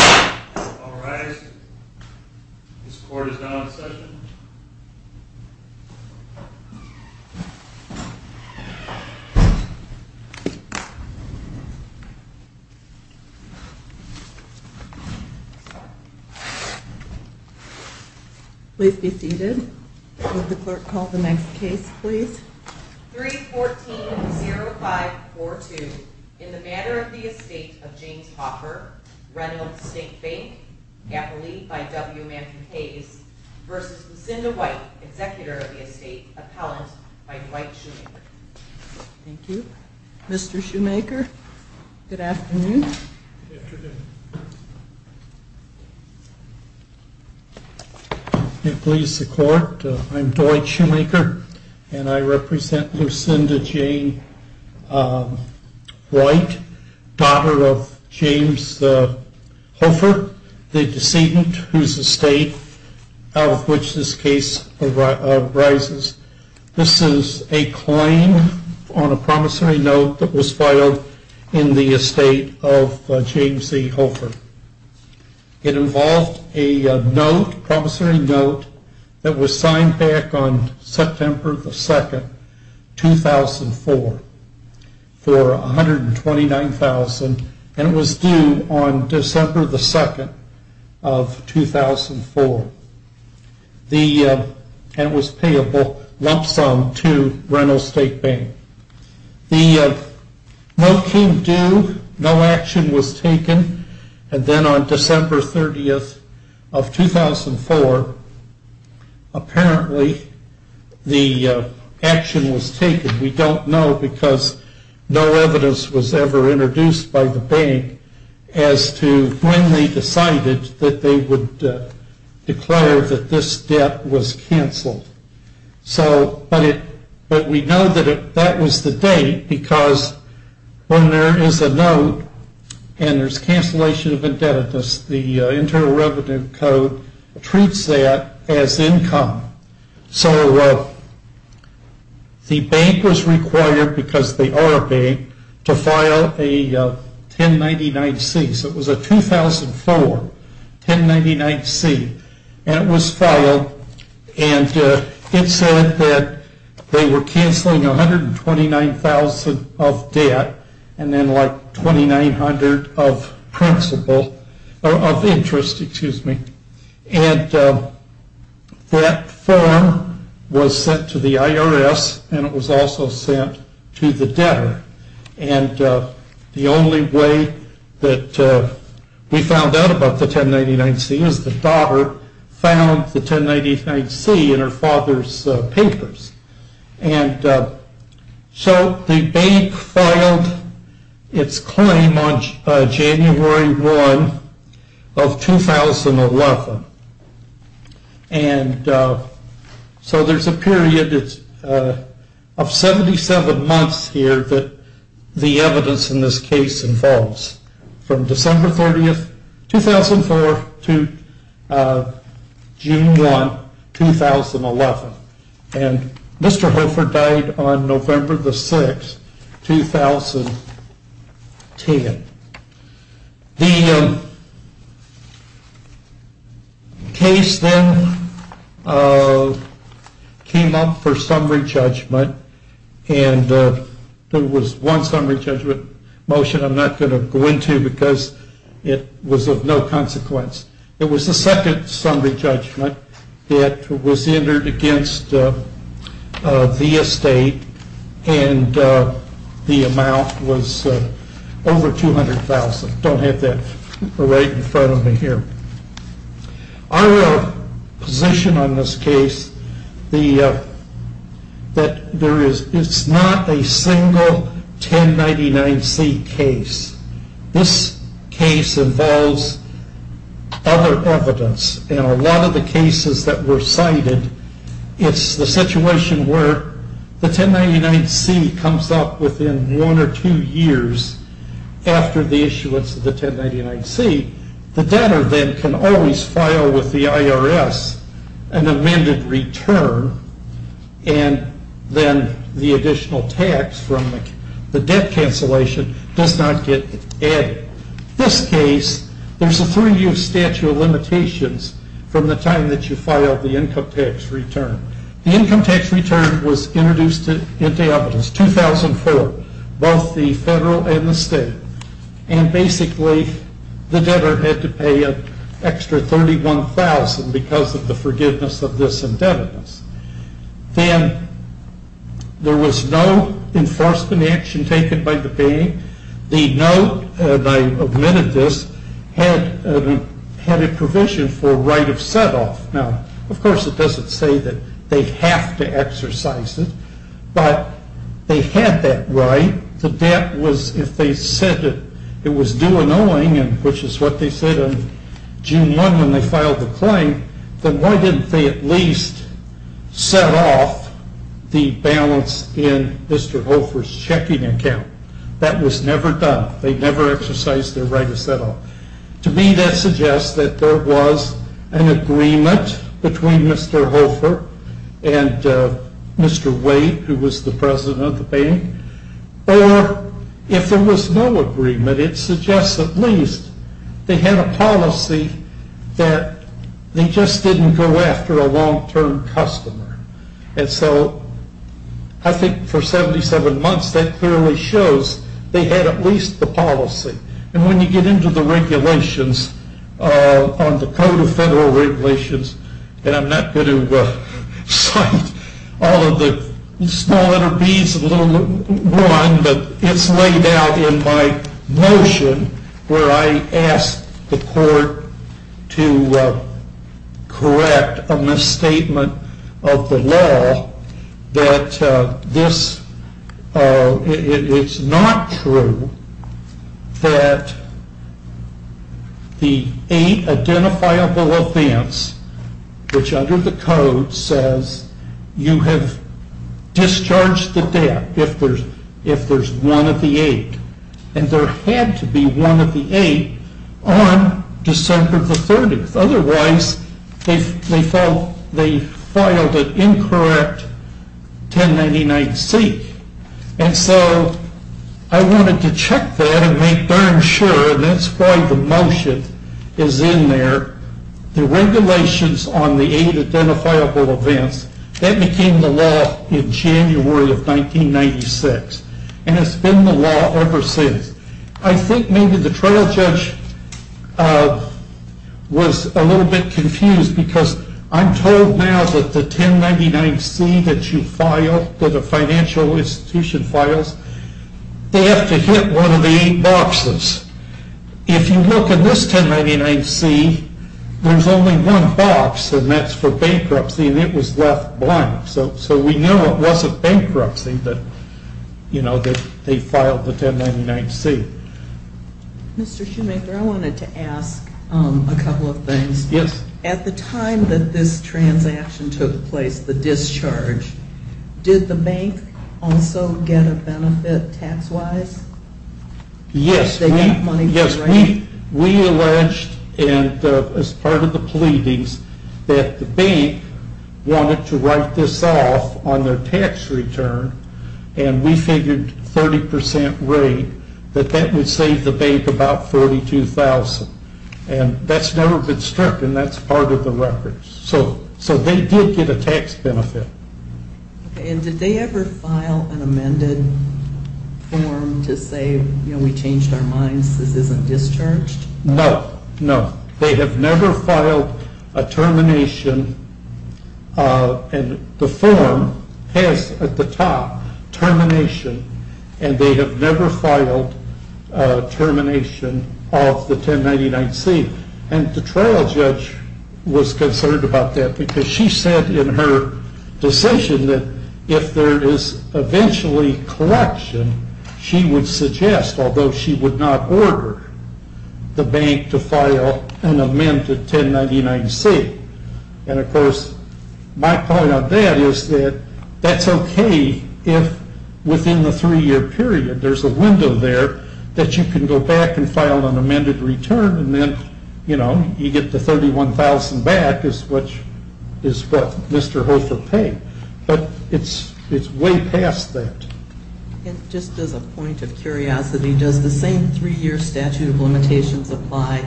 All rise. This court is now in session. Please be seated. Would the clerk call the next case, please? 3-14-0-5-4-2 In the matter of the Estate of James Hofer, Reynolds Estate Bank, Capital E by W. Manfred Hayes v. Lucinda White, Executor of the Estate, Appellant by Dwight Shoemaker. Thank you. Mr. Shoemaker, good afternoon. Good afternoon. It pleases the court. I'm Dwight Shoemaker, and I represent Lucinda Jane White, daughter of James Hofer, the decedent whose estate out of which this case arises. This is a claim on a promissory note that was filed in the Estate of James E. Hofer. It involved a note, a promissory note, that was signed back on September 2, 2004 for $129,000, and it was due on December 2, 2004, and it was payable lump sum to Reynolds Estate Bank. The note came due, no action was taken, and then on December 30, 2004, apparently the action was taken. We don't know because no evidence was ever introduced by the bank as to when they decided that they would declare that this debt was canceled, but we know that that was the date because when there is a note and there's cancellation of indebtedness, the Internal Revenue Code treats that as income. So the bank was required, because they are a bank, to file a 1099-C. So it was a 2004 1099-C, and it was filed, and it said that they were canceling 129,000 of debt and then like 2,900 of interest, and that form was sent to the IRS, and it was also sent to the debtor, and the only way that we found out about the 1099-C is the daughter found the 1099-C in her father's papers. And so the bank filed its claim on January 1 of 2011, and so there's a period of 77 months here that the evidence in this case involves, from December 30, 2004 to June 1, 2011. And Mr. Hofer died on November 6, 2010. The case then came up for summary judgment, and there was one summary judgment motion I'm not going to go into because it was of no consequence. It was the second summary judgment that was entered against the estate, and the amount was over 200,000. Don't have that right in front of me here. Our position on this case, that it's not a single 1099-C case. This case involves other evidence, and a lot of the cases that were cited, it's the situation where the 1099-C comes up within one or two years after the issuance of the 1099-C. The debtor then can always file with the IRS an amended return, and then the additional tax from the debt cancellation does not get added. This case, there's a three-year statute of limitations from the time that you filed the income tax return. The income tax return was introduced into evidence 2004, both the federal and the state, and basically the debtor had to pay an extra 31,000 because of the forgiveness of this indebtedness. Then there was no enforcement action taken by the bank. The note, and I omitted this, had a provision for right of set-off. Now, of course, it doesn't say that they have to exercise it, but they had that right. The debt was, if they said it was due an owing, which is what they said on June 1 when they filed the claim, then why didn't they at least set off the balance in Mr. Hofer's checking account? That was never done. They never exercised their right of set-off. To me, that suggests that there was an agreement between Mr. Hofer and Mr. Wade, who was the president of the bank, or if there was no agreement, it suggests at least they had a policy that they just didn't go after a long-term customer. And so I think for 77 months, that clearly shows they had at least the policy. And when you get into the regulations on the Code of Federal Regulations, and I'm not going to cite all of the small letter Bs and little one, but it's laid out in my motion where I asked the court to correct a misstatement of the law that it's not true that the eight identifiable events, which under the Code says you have discharged the debt if there's one of the eight, and there had to be one of the eight on December the 30th. Otherwise, they filed an incorrect 1099-C. And so I wanted to check that and make darn sure, and that's why the motion is in there, the regulations on the eight identifiable events, that became the law in January of 1996. And it's been the law ever since. I think maybe the trial judge was a little bit confused, because I'm told now that the 1099-C that you filed, that a financial institution files, they have to hit one of the eight boxes. If you look at this 1099-C, there's only one box, and that's for bankruptcy, and it was left blank. So we knew it wasn't bankruptcy that they filed the 1099-C. Mr. Shoemaker, I wanted to ask a couple of things. At the time that this transaction took place, the discharge, did the bank also get a benefit tax-wise? Yes, we alleged, and as part of the pleadings, that the bank wanted to write this off on their tax return, and we figured 30% rate, that that would save the bank about $42,000. And that's never been stripped, and that's part of the record. So they did get a tax benefit. And did they ever file an amended form to say, you know, we changed our minds, this isn't discharged? No, no. They have never filed a termination, and the form has at the top, termination, and they have never filed termination of the 1099-C. And the trial judge was concerned about that because she said in her decision that if there is eventually correction, she would suggest, although she would not order the bank to file an amended 1099-C. And, of course, my point on that is that that's okay if, within the three-year period, there's a window there that you can go back and file an amended return, and then, you know, you get the $31,000 back, which is what Mr. Hofer paid. But it's way past that. And just as a point of curiosity, does the same three-year statute of limitations apply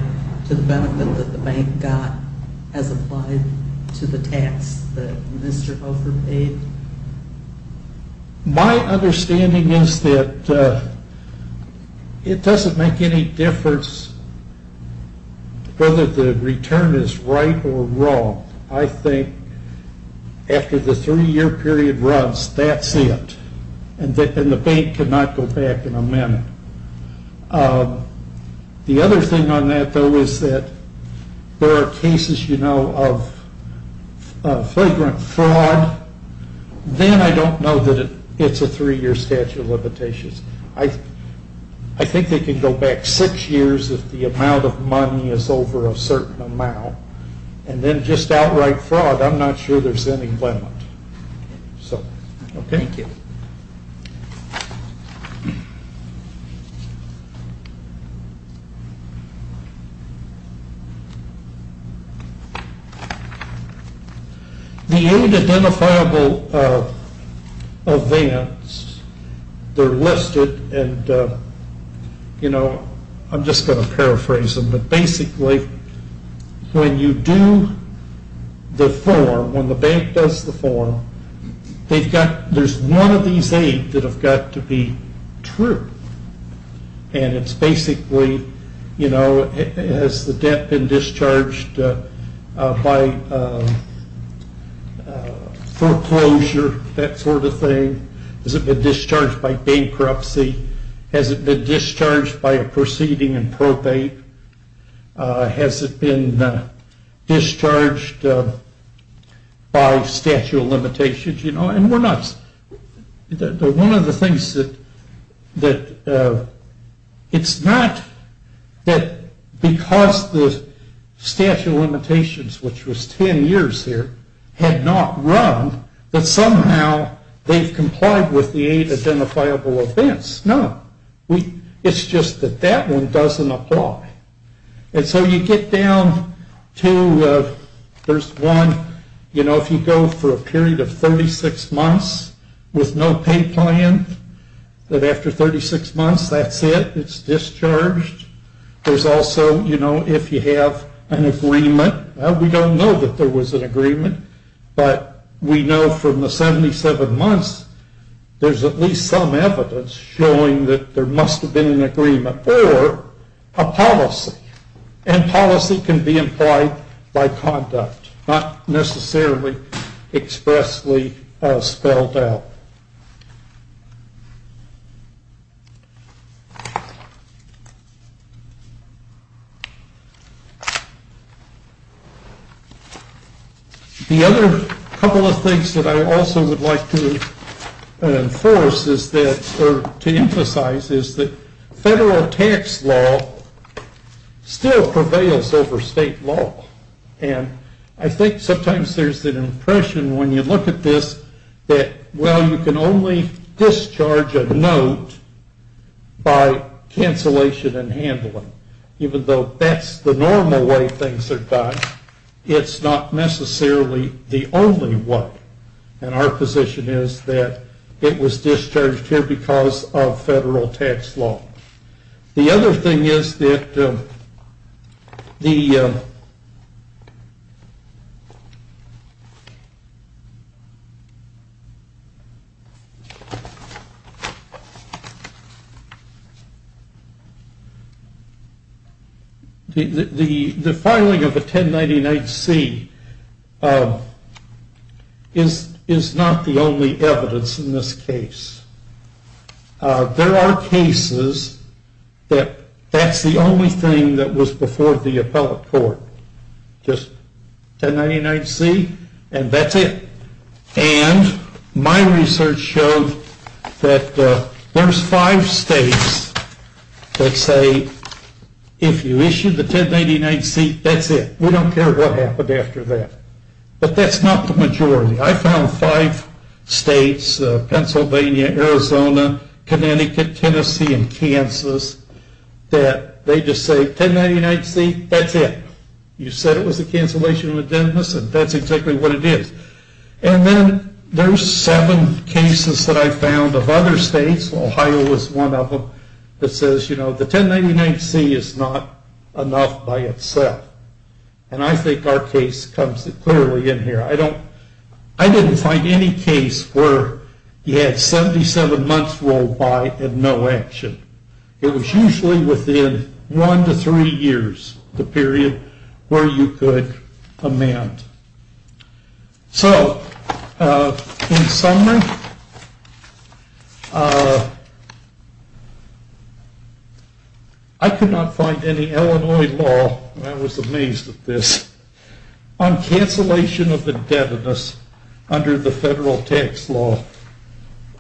to the benefit that the bank got as applied to the tax that Mr. Hofer paid? My understanding is that it doesn't make any difference whether the return is right or wrong. I think after the three-year period runs, that's it. And the bank cannot go back and amend it. The other thing on that, though, is that there are cases, you know, of flagrant fraud. Then I don't know that it's a three-year statute of limitations. I think they can go back six years if the amount of money is over a certain amount. And then just outright fraud, I'm not sure there's any limit. So, okay. Thank you. The unidentifiable events, they're listed, and, you know, I'm just going to paraphrase them. Basically, when you do the form, when the bank does the form, there's one of these eight that have got to be true. And it's basically, you know, has the debt been discharged by foreclosure, that sort of thing? Has it been discharged by bankruptcy? Has it been discharged by a proceeding in Prop 8? Has it been discharged by statute of limitations? You know, and we're not – one of the things that – it's not that because the statute of limitations, which was ten years here, had not run, that somehow they've complied with the eight identifiable events. No. It's just that that one doesn't apply. And so you get down to – there's one, you know, if you go for a period of 36 months with no pay plan, that after 36 months, that's it. It's discharged. There's also, you know, if you have an agreement. We don't know that there was an agreement, but we know from the 77 months, there's at least some evidence showing that there must have been an agreement or a policy. And policy can be implied by conduct, not necessarily expressly spelled out. The other couple of things that I also would like to enforce is that – or to emphasize is that federal tax law still prevails over state law. And I think sometimes there's an impression when you look at this that, well, you can only discharge a note by cancellation and handling, even though that's the normal way things are done, it's not necessarily the only one. And our position is that it was discharged here because of federal tax law. The other thing is that the – the filing of a 1099-C is not the only evidence in this case. There are cases that that's the only thing that was before the appellate court, just 1099-C and that's it. And my research showed that there's five states that say, if you issue the 1099-C, that's it. We don't care what happened after that. But that's not the majority. I found five states, Pennsylvania, Arizona, Connecticut, Tennessee, and Kansas, that they just say 1099-C, that's it. You said it was a cancellation of the business and that's exactly what it is. And then there's seven cases that I found of other states, Ohio was one of them, that says, you know, the 1099-C is not enough by itself. And I think our case comes clearly in here. I don't – I didn't find any case where you had 77 months rolled by and no action. It was usually within one to three years, the period where you could amend. So, in summary, I could not find any Illinois law, and I was amazed at this, on cancellation of indebtedness under the federal tax law.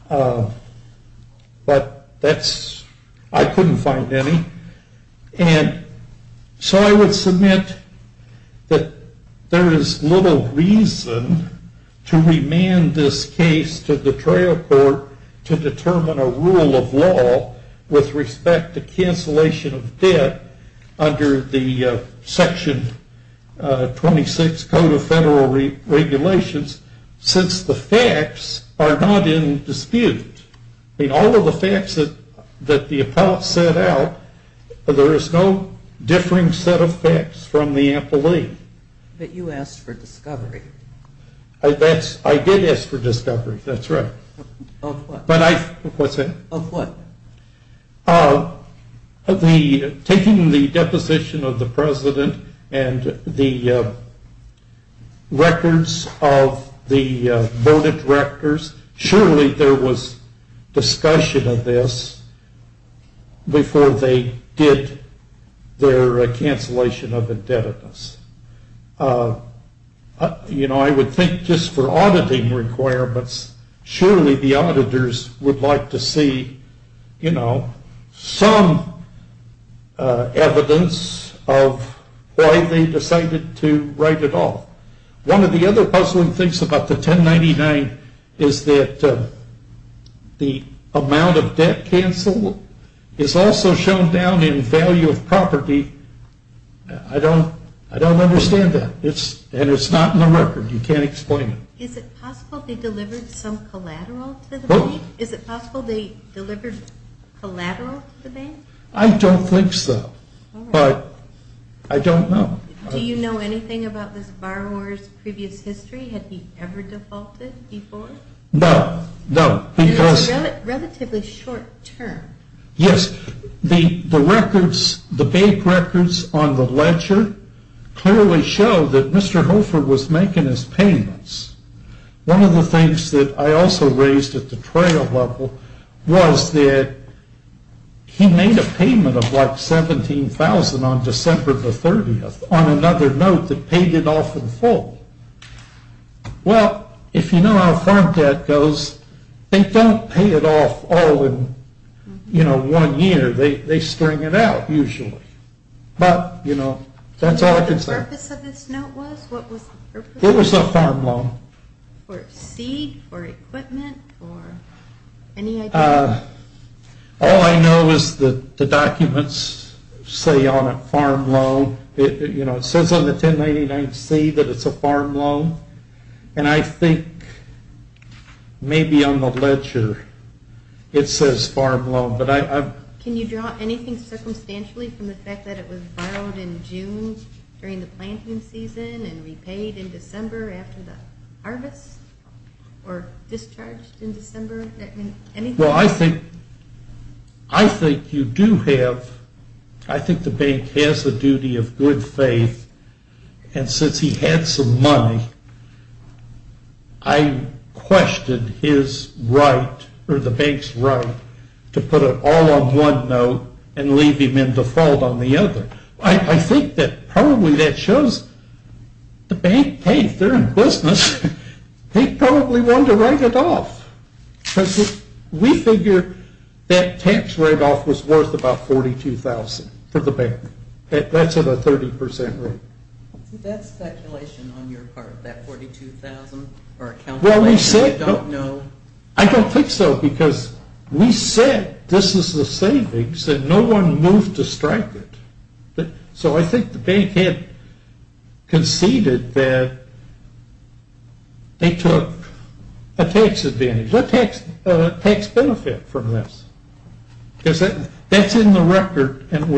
But that's – I couldn't find any. And so I would submit that there is little reason to remand this case to the trail court to determine a rule of law with respect to cancellation of debt under the Section 26 Code of Federal Regulations, since the facts are not in dispute. I mean, all of the facts that the appellate set out, there is no differing set of facts from the amply. But you asked for discovery. I did ask for discovery, that's right. Of what? What's that? Of what? Taking the deposition of the President and the records of the voted rectors, surely there was discussion of this before they did their cancellation of indebtedness. You know, I would think just for auditing requirements, surely the auditors would like to see, you know, some evidence of why they decided to write it off. One of the other puzzling things about the 1099 is that the amount of debt canceled is also shown down in value of property. I don't understand that. And it's not in the record. You can't explain it. Is it possible they delivered some collateral to the bank? Is it possible they delivered collateral to the bank? I don't think so. But I don't know. Do you know anything about this borrower's previous history? Had he ever defaulted before? No, no. It was relatively short term. Yes, the records, the bank records on the ledger, clearly show that Mr. Hofer was making his payments. One of the things that I also raised at the trail level was that he made a payment of like $17,000 on December the 30th on another note that paid it off in full. Well, if you know how farm debt goes, they don't pay it off all in one year. They string it out usually. But that's all I can say. What was the purpose of this note? It was a farm loan. For seed, for equipment, for any idea? All I know is the documents say on it farm loan. It says on the 1099-C that it's a farm loan. And I think maybe on the ledger it says farm loan. Can you draw anything circumstantially from the fact that it was borrowed in June during the planting season and repaid in December after the harvest or discharged in December? Well, I think you do have, I think the bank has a duty of good faith. And since he had some money, I questioned his right or the bank's right to put it all on one note and leave him in default on the other. I think that probably that shows the bank, hey, if they're in business, they probably want to write it off. Because we figure that tax write-off was worth about $42,000 for the bank. That's at a 30% rate. Is that speculation on your part, that $42,000? Or a calculation you don't know? I don't think so, because we said this is the savings and no one moved to strike it. So I think the bank had conceded that they took a tax advantage, a tax benefit from this. Because that's in the record and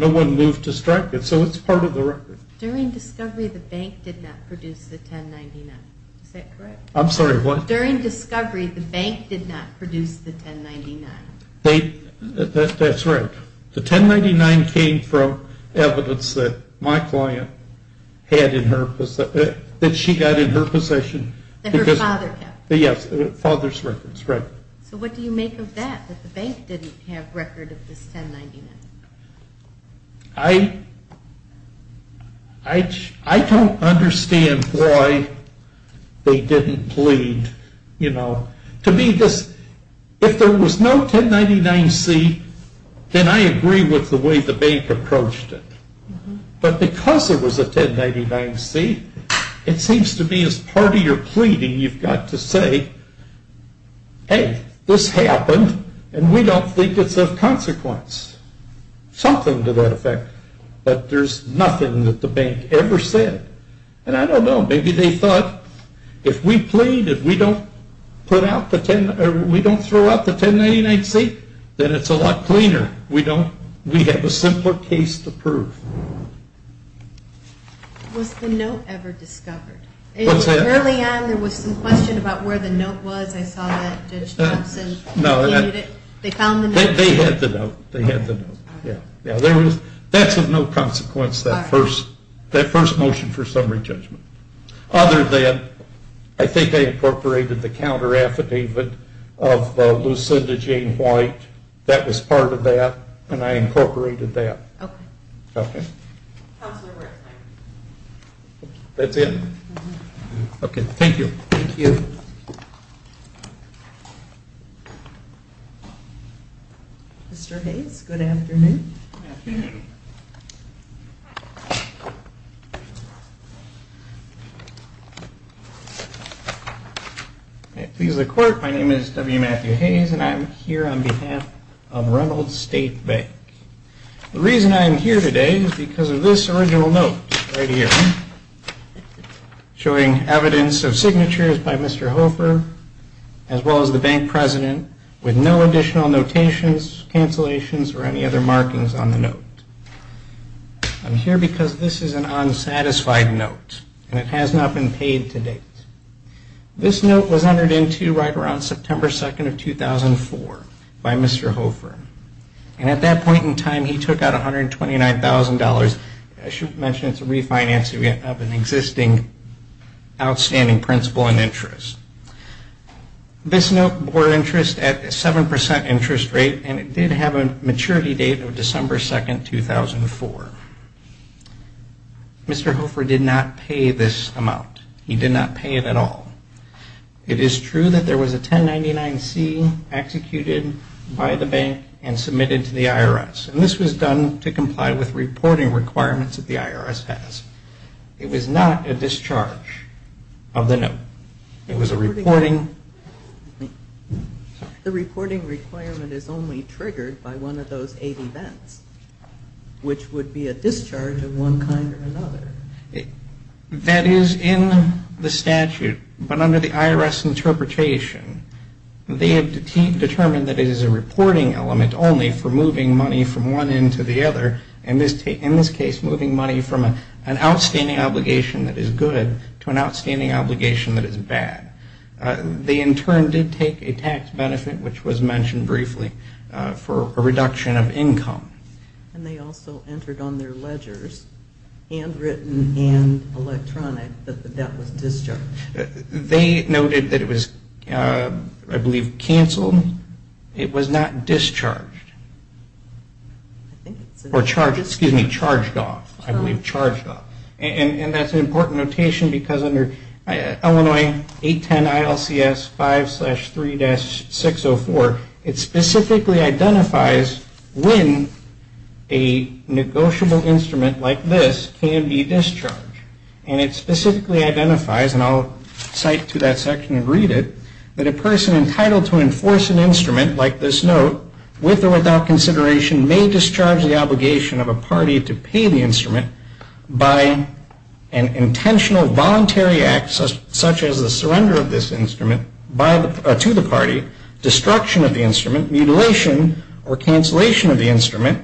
no one moved to strike it. So it's part of the record. During discovery, the bank did not produce the 1099. Is that correct? I'm sorry, what? During discovery, the bank did not produce the 1099. That's right. The 1099 came from evidence that my client had in her possession, that she got in her possession. That her father kept. Yes, father's records, right. So what do you make of that, that the bank didn't have record of this 1099? I don't understand why they didn't plead. To me, if there was no 1099-C, then I agree with the way the bank approached it. But because there was a 1099-C, it seems to me as part of your pleading, you've got to say, hey, this happened and we don't think it's of consequence. Something to that effect. But there's nothing that the bank ever said. And I don't know, maybe they thought, if we plead, if we don't throw out the 1099-C, then it's a lot cleaner. We have a simpler case to prove. Was the note ever discovered? What's that? Early on, there was some question about where the note was. I saw that Judge Thompson continued it. They found the note. They had the note. They had the note. That's of no consequence, that first motion for summary judgment. Other than, I think they incorporated the counter-affidavit of Lucinda Jane White. That was part of that, and I incorporated that. Okay. Okay. Counselor Wertheim. That's it? Uh-huh. Okay, thank you. Thank you. Mr. Hayes, good afternoon. Good afternoon. May it please the Court, my name is W. Matthew Hayes, and I'm here on behalf of Reynolds State Bank. The reason I'm here today is because of this original note right here, showing evidence of signatures by Mr. Hofer, as well as the bank president, with no additional notations, cancellations, or any other markings on the note. I'm here because this is an unsatisfied note, and it has not been paid to date. This note was entered into right around September 2nd of 2004 by Mr. Hofer, and at that point in time he took out $129,000. I should mention it's a refinance of an existing outstanding principal and interest. This note bore interest at a 7% interest rate, and it did have a maturity date of December 2nd, 2004. Mr. Hofer did not pay this amount. He did not pay it at all. It is true that there was a 1099-C executed by the bank and submitted to the IRS, and this was done to comply with reporting requirements that the IRS has. It was not a discharge of the note. It was a reporting... The reporting requirement is only triggered by one of those eight events, which would be a discharge of one kind or another. That is in the statute, but under the IRS interpretation, they have determined that it is a reporting element only for moving money from one end to the other, in this case moving money from an outstanding obligation that is good to an outstanding obligation that is bad. They in turn did take a tax benefit, which was mentioned briefly, for a reduction of income. And they also entered on their ledgers, handwritten and electronic, that the debt was discharged. They noted that it was, I believe, canceled. It was not discharged. Or charged off, I believe, charged off. And that's an important notation because under Illinois 810 ILCS 5-3-604, it specifically identifies when a negotiable instrument like this can be discharged. And it specifically identifies, and I'll cite to that section and read it, that a person entitled to enforce an instrument like this note, with or without consideration, may discharge the obligation of a party to pay the instrument by an intentional voluntary act such as the surrender of this instrument to the party, destruction of the instrument, mutilation or cancellation of the instrument,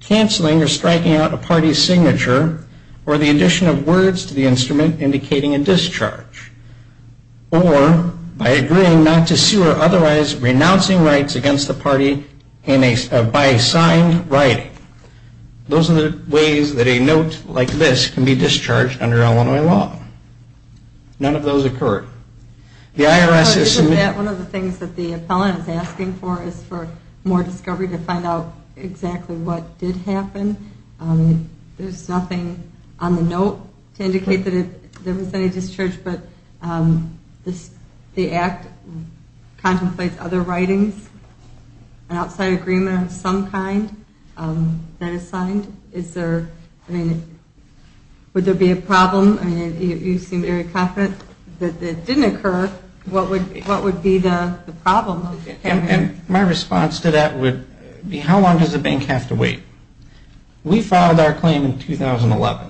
canceling or striking out a party's signature, or the addition of words to the instrument indicating a discharge. Or by agreeing not to sue or otherwise renouncing rights against the party by signed writing. Those are the ways that a note like this can be discharged under Illinois law. None of those occurred. One of the things that the appellant is asking for is for more discovery to find out exactly what did happen. There's nothing on the note to indicate that there was any discharge, but the act contemplates other writings, an outside agreement of some kind, that is signed. Would there be a problem? You seem very confident that it didn't occur. What would be the problem? My response to that would be how long does the bank have to wait? We filed our claim in 2011.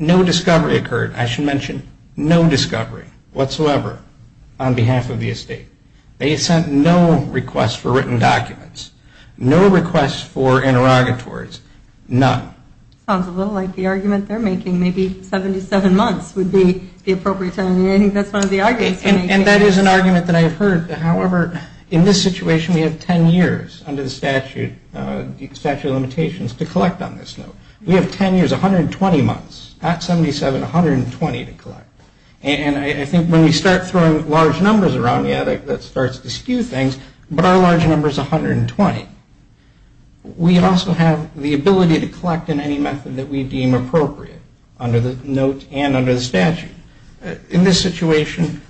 No discovery occurred. I should mention no discovery whatsoever on behalf of the estate. They sent no requests for written documents. No requests for interrogatories. None. Sounds a little like the argument they're making, maybe 77 months would be the appropriate time. I think that's one of the arguments. And that is an argument that I have heard. However, in this situation we have 10 years under the statute of limitations to collect on this note. We have 10 years, 120 months. At 77, 120 to collect. And I think when we start throwing large numbers around, yeah, that starts to skew things, but our large number is 120. We also have the ability to collect in any method that we deem appropriate under the note and under the statute. In this situation,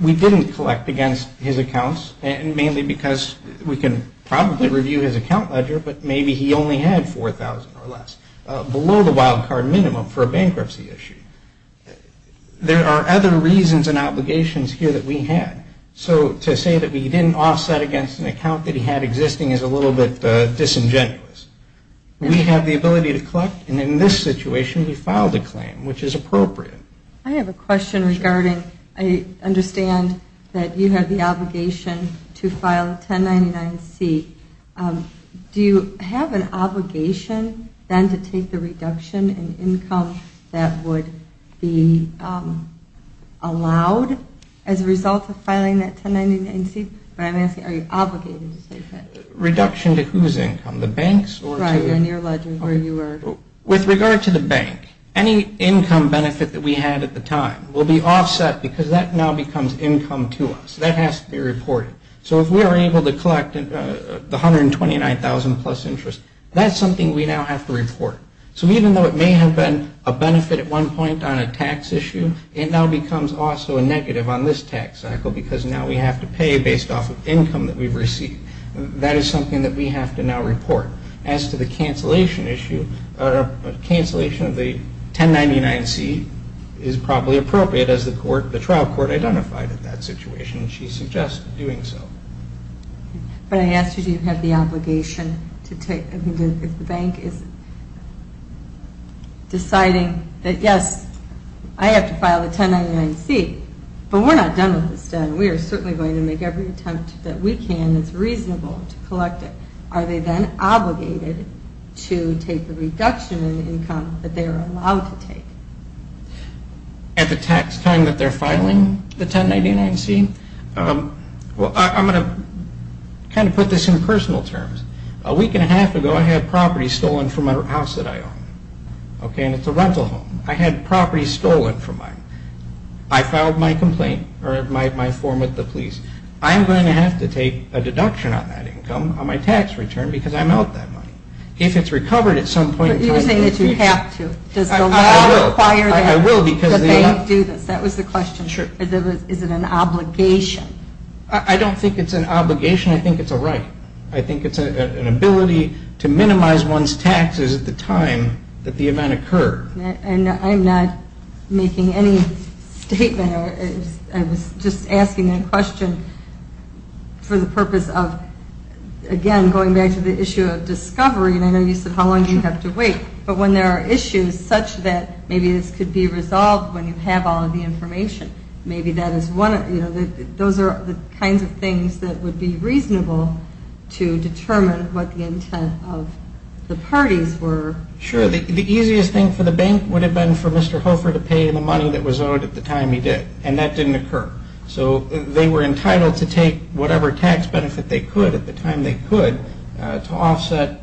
we didn't collect against his accounts, mainly because we can probably review his account ledger, but maybe he only had $4,000 or less, below the wild card minimum for a bankruptcy issue. There are other reasons and obligations here that we had. So to say that we didn't offset against an account that he had existing is a little bit disingenuous. We have the ability to collect, and in this situation we filed a claim, which is appropriate. I have a question regarding, I understand that you have the obligation to file a 1099-C. Do you have an obligation then to take the reduction in income that would be allowed as a result of filing that 1099-C? But I'm asking, are you obligated to take that? Reduction to whose income? The bank's or to? Right, on your ledger where you were. With regard to the bank, any income benefit that we had at the time will be offset because that now becomes income to us. That has to be reported. So if we are able to collect the $129,000 plus interest, that's something we now have to report. So even though it may have been a benefit at one point on a tax issue, it now becomes also a negative on this tax cycle because now we have to pay based off of income that we've received. That is something that we have to now report. As to the cancellation issue, a cancellation of the 1099-C is probably appropriate as the trial court identified in that situation, and she suggested doing so. But I asked, do you have the obligation to take, if the bank is deciding that, yes, I have to file the 1099-C, but we're not done with this debt and we are certainly going to make every attempt that we can that's reasonable to collect it. Are they then obligated to take the reduction in income that they are allowed to take? At the tax time that they're filing the 1099-C? Well, I'm going to kind of put this in personal terms. A week and a half ago, I had property stolen from a house that I own. Okay, and it's a rental home. I had property stolen from mine. I filed my complaint or my form with the police. I'm going to have to take a deduction on that income, on my tax return, because I'm out that money. If it's recovered at some point in time... But you're saying that you have to. I will. Does the law require that? I will because... That they do this. That was the question. Sure. Is it an obligation? I don't think it's an obligation. I think it's a right. I think it's an ability to minimize one's taxes at the time that the event occurred. I'm not making any statement. I was just asking that question for the purpose of, again, going back to the issue of discovery, and I know you said how long do you have to wait. But when there are issues such that maybe this could be resolved when you have all of the information, maybe that is one of the kinds of things that would be reasonable to determine what the intent of the parties were. Sure, the easiest thing for the bank would have been for Mr. Hofer to pay the money that was owed at the time he did, and that didn't occur. So they were entitled to take whatever tax benefit they could at the time they could to offset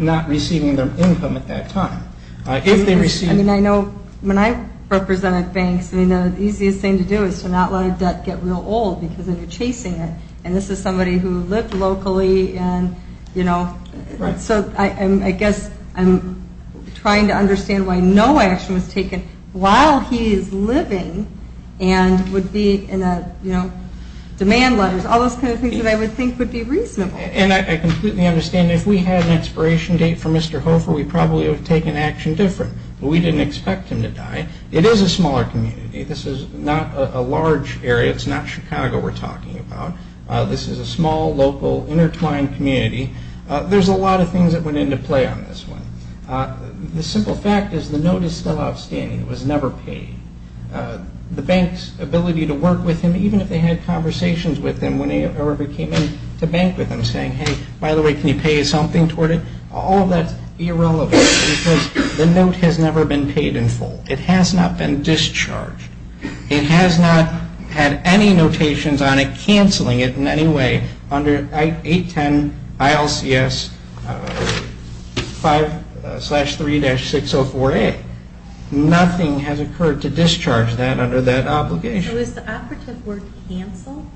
not receiving their income at that time. I mean, I know when I represented banks, the easiest thing to do is to not let a debt get real old because then you're chasing it. And this is somebody who lived locally. So I guess I'm trying to understand why no action was taken while he is living and would be in a demand letter. All those kind of things that I would think would be reasonable. And I completely understand if we had an expiration date for Mr. Hofer, we probably would have taken action different. But we didn't expect him to die. It is a smaller community. This is not a large area. It's not Chicago we're talking about. This is a small, local, intertwined community. There's a lot of things that went into play on this one. The simple fact is the note is still outstanding. It was never paid. The bank's ability to work with him, even if they had conversations with him whenever he came in to bank with him, saying, hey, by the way, can you pay something toward it? All of that is irrelevant because the note has never been paid in full. It has not been discharged. It has not had any notations on it canceling it in any way under 810 ILCS 5-3-604A. Nothing has occurred to discharge that under that obligation. So is the operative word cancel?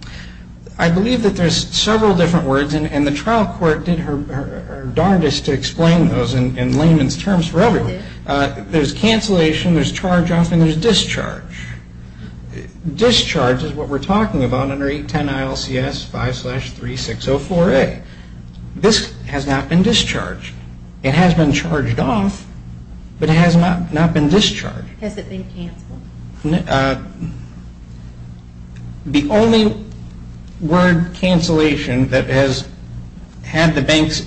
I believe that there's several different words, and the trial court did her darndest to explain those in layman's terms for everyone. There's cancellation, there's charge-off, and there's discharge. Discharge is what we're talking about under 810 ILCS 5-3-604A. This has not been discharged. It has been charged off, but it has not been discharged. Has it been canceled? The only word cancellation that has had the bank's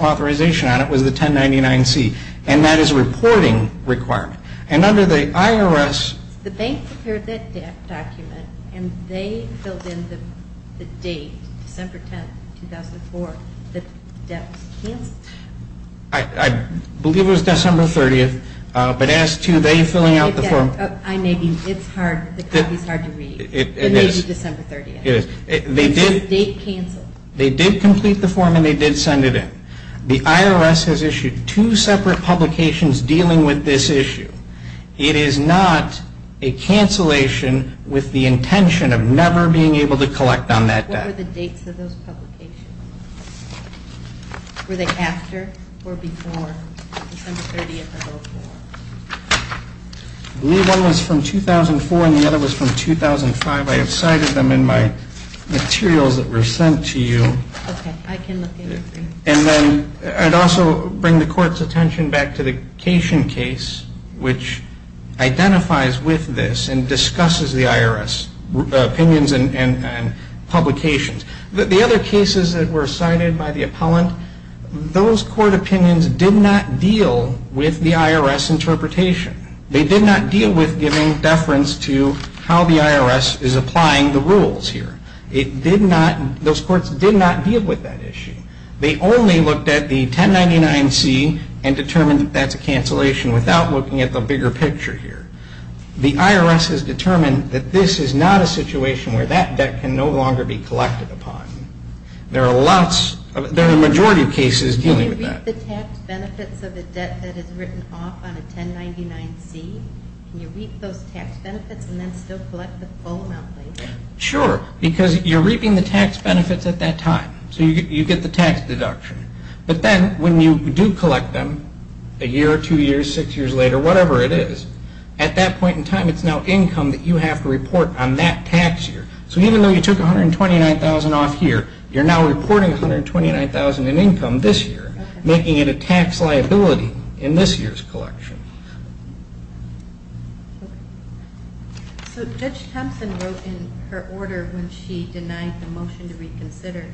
authorization on it was the 1099C, and that is a reporting requirement. And under the IRS. The bank prepared that document, and they filled in the date, December 10, 2004, that the debt was canceled. I believe it was December 30th, but as to they filling out the form. I may be, it's hard, the copy's hard to read. It is. It may be December 30th. It is. It says date canceled. They did complete the form, and they did send it in. The IRS has issued two separate publications dealing with this issue. It is not a cancellation with the intention of never being able to collect on that debt. What were the dates of those publications? Were they after or before December 30th or before? I believe one was from 2004, and the other was from 2005. I have cited them in my materials that were sent to you. Okay. I can look into them. And then I'd also bring the court's attention back to the Cation case, which identifies with this and discusses the IRS opinions and publications. The other cases that were cited by the appellant, those court opinions did not deal with the IRS interpretation. They did not deal with giving deference to how the IRS is applying the rules here. Those courts did not deal with that issue. They only looked at the 1099-C and determined that that's a cancellation without looking at the bigger picture here. The IRS has determined that this is not a situation where that debt can no longer be collected upon. There are a majority of cases dealing with that. Can you reap the tax benefits of a debt that is written off on a 1099-C? Can you reap those tax benefits and then still collect the full amount later? Sure, because you're reaping the tax benefits at that time. So you get the tax deduction. But then when you do collect them a year or two years, six years later, whatever it is, at that point in time it's now income that you have to report on that tax year. So even though you took $129,000 off here, you're now reporting $129,000 in income this year, making it a tax liability in this year's collection. So Judge Thompson wrote in her order when she denied the motion to reconsider,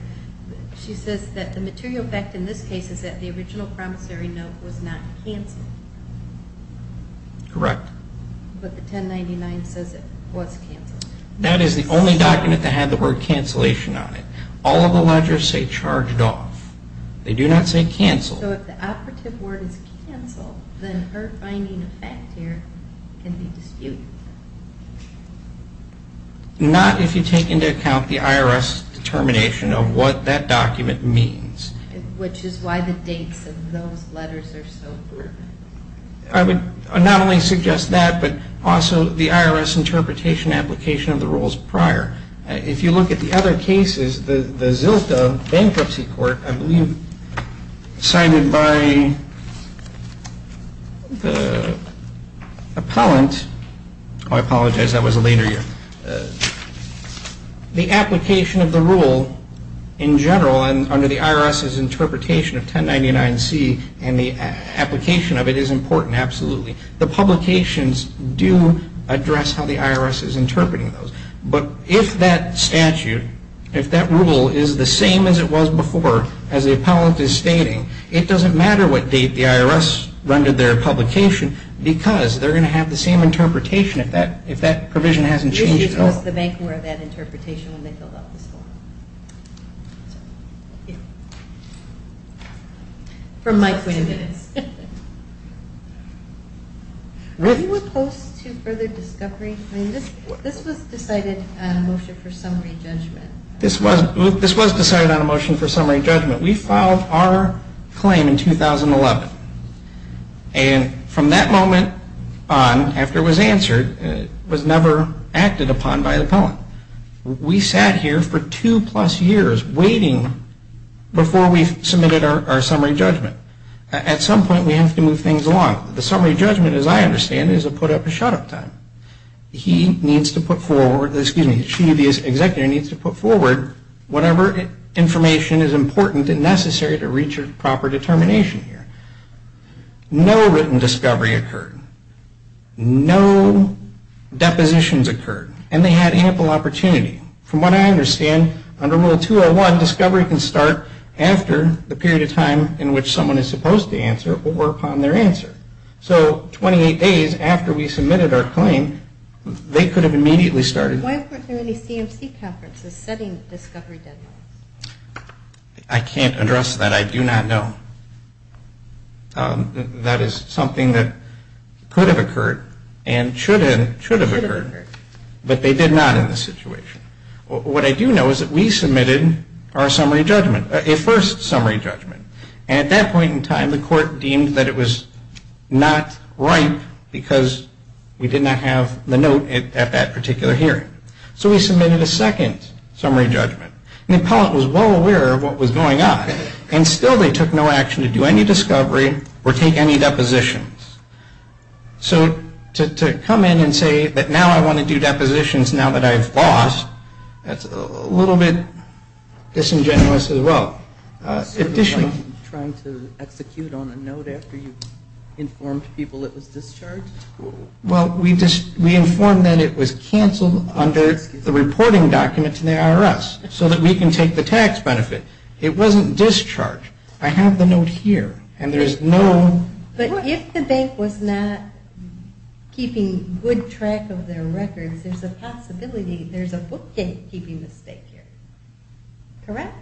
she says that the material fact in this case is that the original promissory note was not cancelled. Correct. But the 1099 says it was cancelled. That is the only document that had the word cancellation on it. All of the ledgers say charged off. They do not say cancelled. So if the operative word is cancelled, then her finding of fact here can be disputed. Not if you take into account the IRS determination of what that document means. Which is why the dates of those letters are so important. I would not only suggest that, but also the IRS interpretation application of the rules prior. If you look at the other cases, the ZILTA bankruptcy court, I believe, signed by the appellant, I apologize, that was a later year. The application of the rule in general under the IRS's interpretation of 1099-C and the application of it is important, absolutely. The publications do address how the IRS is interpreting those. But if that statute, if that rule is the same as it was before, as the appellant is stating, it does not matter what date the IRS rendered their publication because they are going to have the same interpretation if that provision has not changed at all. This was the bankruptcy court's interpretation when they filled out this form. From Mike Winamitz. Were you opposed to further discovery? This was decided on a motion for summary judgment. This was decided on a motion for summary judgment. We filed our claim in 2011. And from that moment on, after it was answered, it was never acted upon by the appellant. We sat here for two plus years waiting before we submitted our summary judgment. At some point we have to move things along. The summary judgment, as I understand it, is to put up a shut-up time. He needs to put forward, excuse me, she, the executive needs to put forward whatever information is important and necessary to reach a proper determination here. No written discovery occurred. No depositions occurred. And they had ample opportunity. From what I understand, under Rule 201, discovery can start after the period of time in which someone is supposed to answer or upon their answer. So 28 days after we submitted our claim, they could have immediately started. Why weren't there any CMC conferences setting discovery deadlines? I can't address that. I do not know. That is something that could have occurred and should have occurred. But they did not in this situation. What I do know is that we submitted our summary judgment, a first summary judgment. And at that point in time, the court deemed that it was not right because we did not have the note at that particular hearing. So we submitted a second summary judgment. And the appellant was well aware of what was going on. And still they took no action to do any discovery or take any depositions. So to come in and say that now I want to do depositions now that I've lost, that's a little bit disingenuous as well. Trying to execute on a note after you informed people it was discharged? Well, we informed that it was canceled under the reporting document to the IRS so that we can take the tax benefit. It wasn't discharged. I have the note here. But if the bank was not keeping good track of their records, there's a possibility there's a bookkeeping mistake here. Correct?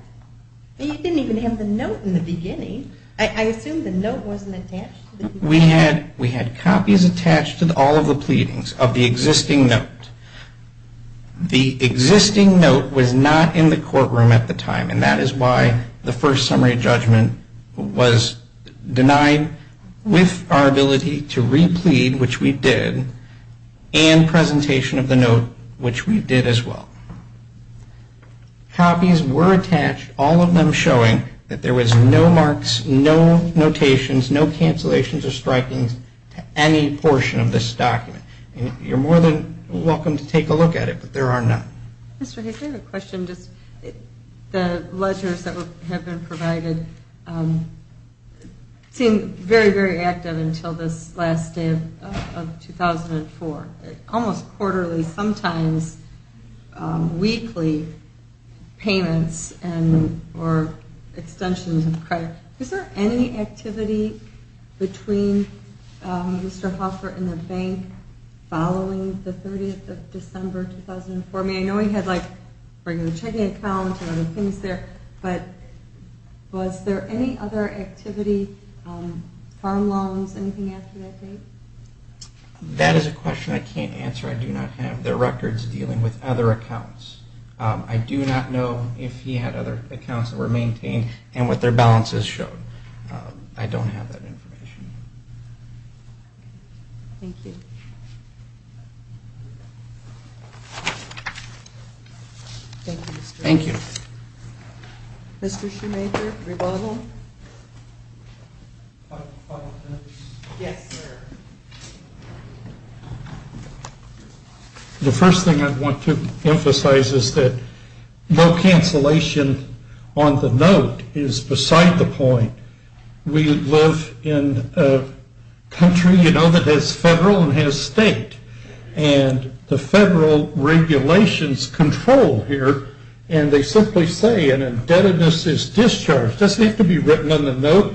You didn't even have the note in the beginning. I assume the note wasn't attached. We had copies attached to all of the pleadings of the existing note. The existing note was not in the courtroom at the time. And that is why the first summary judgment was denied with our ability to replead, which we did, and presentation of the note, which we did as well. Copies were attached, all of them showing that there was no marks, no notations, no cancellations or strikings to any portion of this document. You're more than welcome to take a look at it, but there are none. Mr. Hayes, I have a question. The ledgers that have been provided seem very, very active until this last day of 2004, almost quarterly, sometimes weekly payments or extensions of credit. Is there any activity between Mr. Hoffer and the bank following the 30th of December 2004? I know he had a checking account and other things there, but was there any other activity, farm loans, anything after that date? That is a question I can't answer. I do not have the records dealing with other accounts. I do not know if he had other accounts that were maintained and what their balances showed. I don't have that information. Thank you. Thank you, Mr. Hayes. Thank you. Mr. Shoemaker, rebuttal. Yes, sir. The first thing I want to emphasize is that no cancellation on the note is beside the point. We live in a country, you know, that has federal and has state. And the federal regulations control here, and they simply say an indebtedness is discharged. It doesn't have to be written on the note.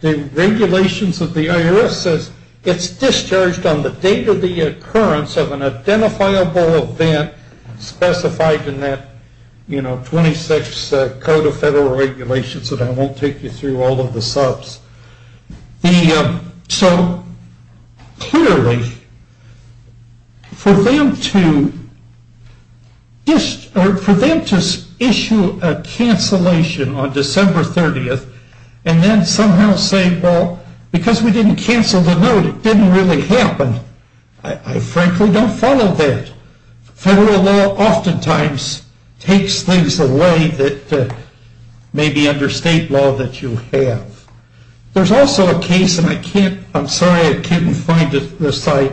The regulations of the IRS says it's discharged on the date of the occurrence of the 26th Code of Federal Regulations, and I won't take you through all of the subs. So clearly, for them to issue a cancellation on December 30th and then somehow say, well, because we didn't cancel the note, it didn't really happen, I frankly don't follow that. So federal law oftentimes takes things away that may be under state law that you have. There's also a case, and I'm sorry I can't find the site.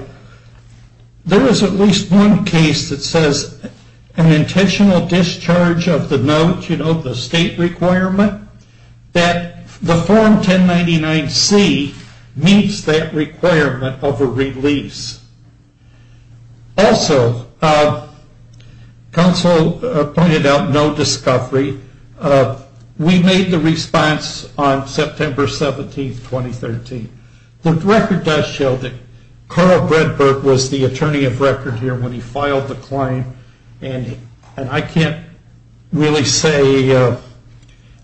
There is at least one case that says an intentional discharge of the note, you know, the state requirement, that the Form 1099-C meets that requirement of a release. Also, counsel pointed out no discovery. We made the response on September 17th, 2013. The record does show that Carl Breadburg was the attorney of record here when he filed the claim, and I can't really say,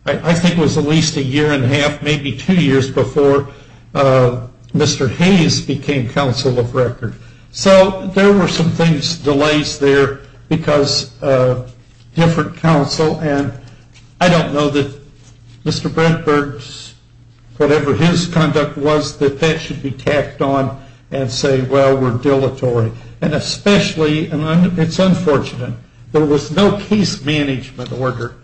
I think it was at least a year and a half, maybe two years before Mr. Hayes became counsel of record. So there were some things, delays there because different counsel, and I don't know that Mr. Breadburg's, whatever his conduct was, that that should be tacked on and say, well, we're dilatory. And especially, and it's unfortunate, there was no case management order.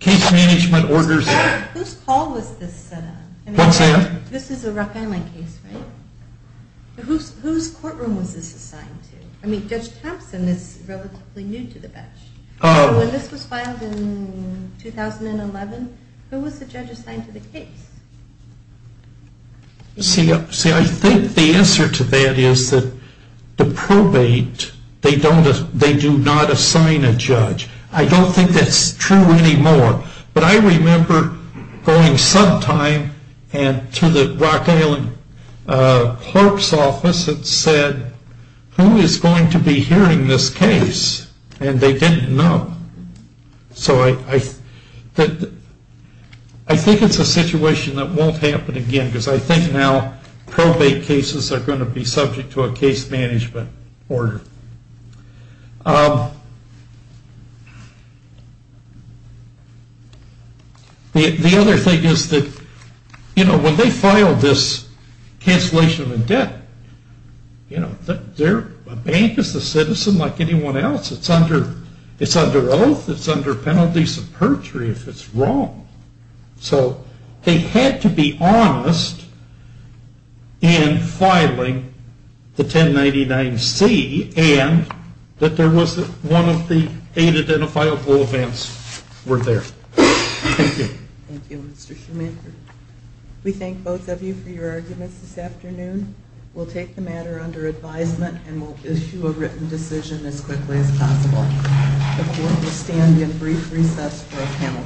Case management orders. Whose call was this? What's that? This is a Ruck Island case, right? Whose courtroom was this assigned to? I mean, Judge Thompson is relatively new to the bench. When this was filed in 2011, who was the judge assigned to the case? See, I think the answer to that is that the probate, they do not assign a judge. I don't think that's true anymore. But I remember going sometime to the Ruck Island clerk's office and said, who is going to be hearing this case? And they didn't know. So I think it's a situation that won't happen again, because I think now probate cases are going to be subject to a case management order. The other thing is that, you know, when they filed this cancellation of the debt, you know, a bank is a citizen like anyone else. It's under oath. It's under penalties of perjury if it's wrong. So they had to be honest in filing the 1099-C and that there was one of the eight identifiable events were there. Thank you. Thank you, Mr. Schumacher. We thank both of you for your arguments this afternoon. We'll take the matter under advisement and we'll issue a written decision as quickly as possible. The court will stand in brief recess for a panel discussion. All rise.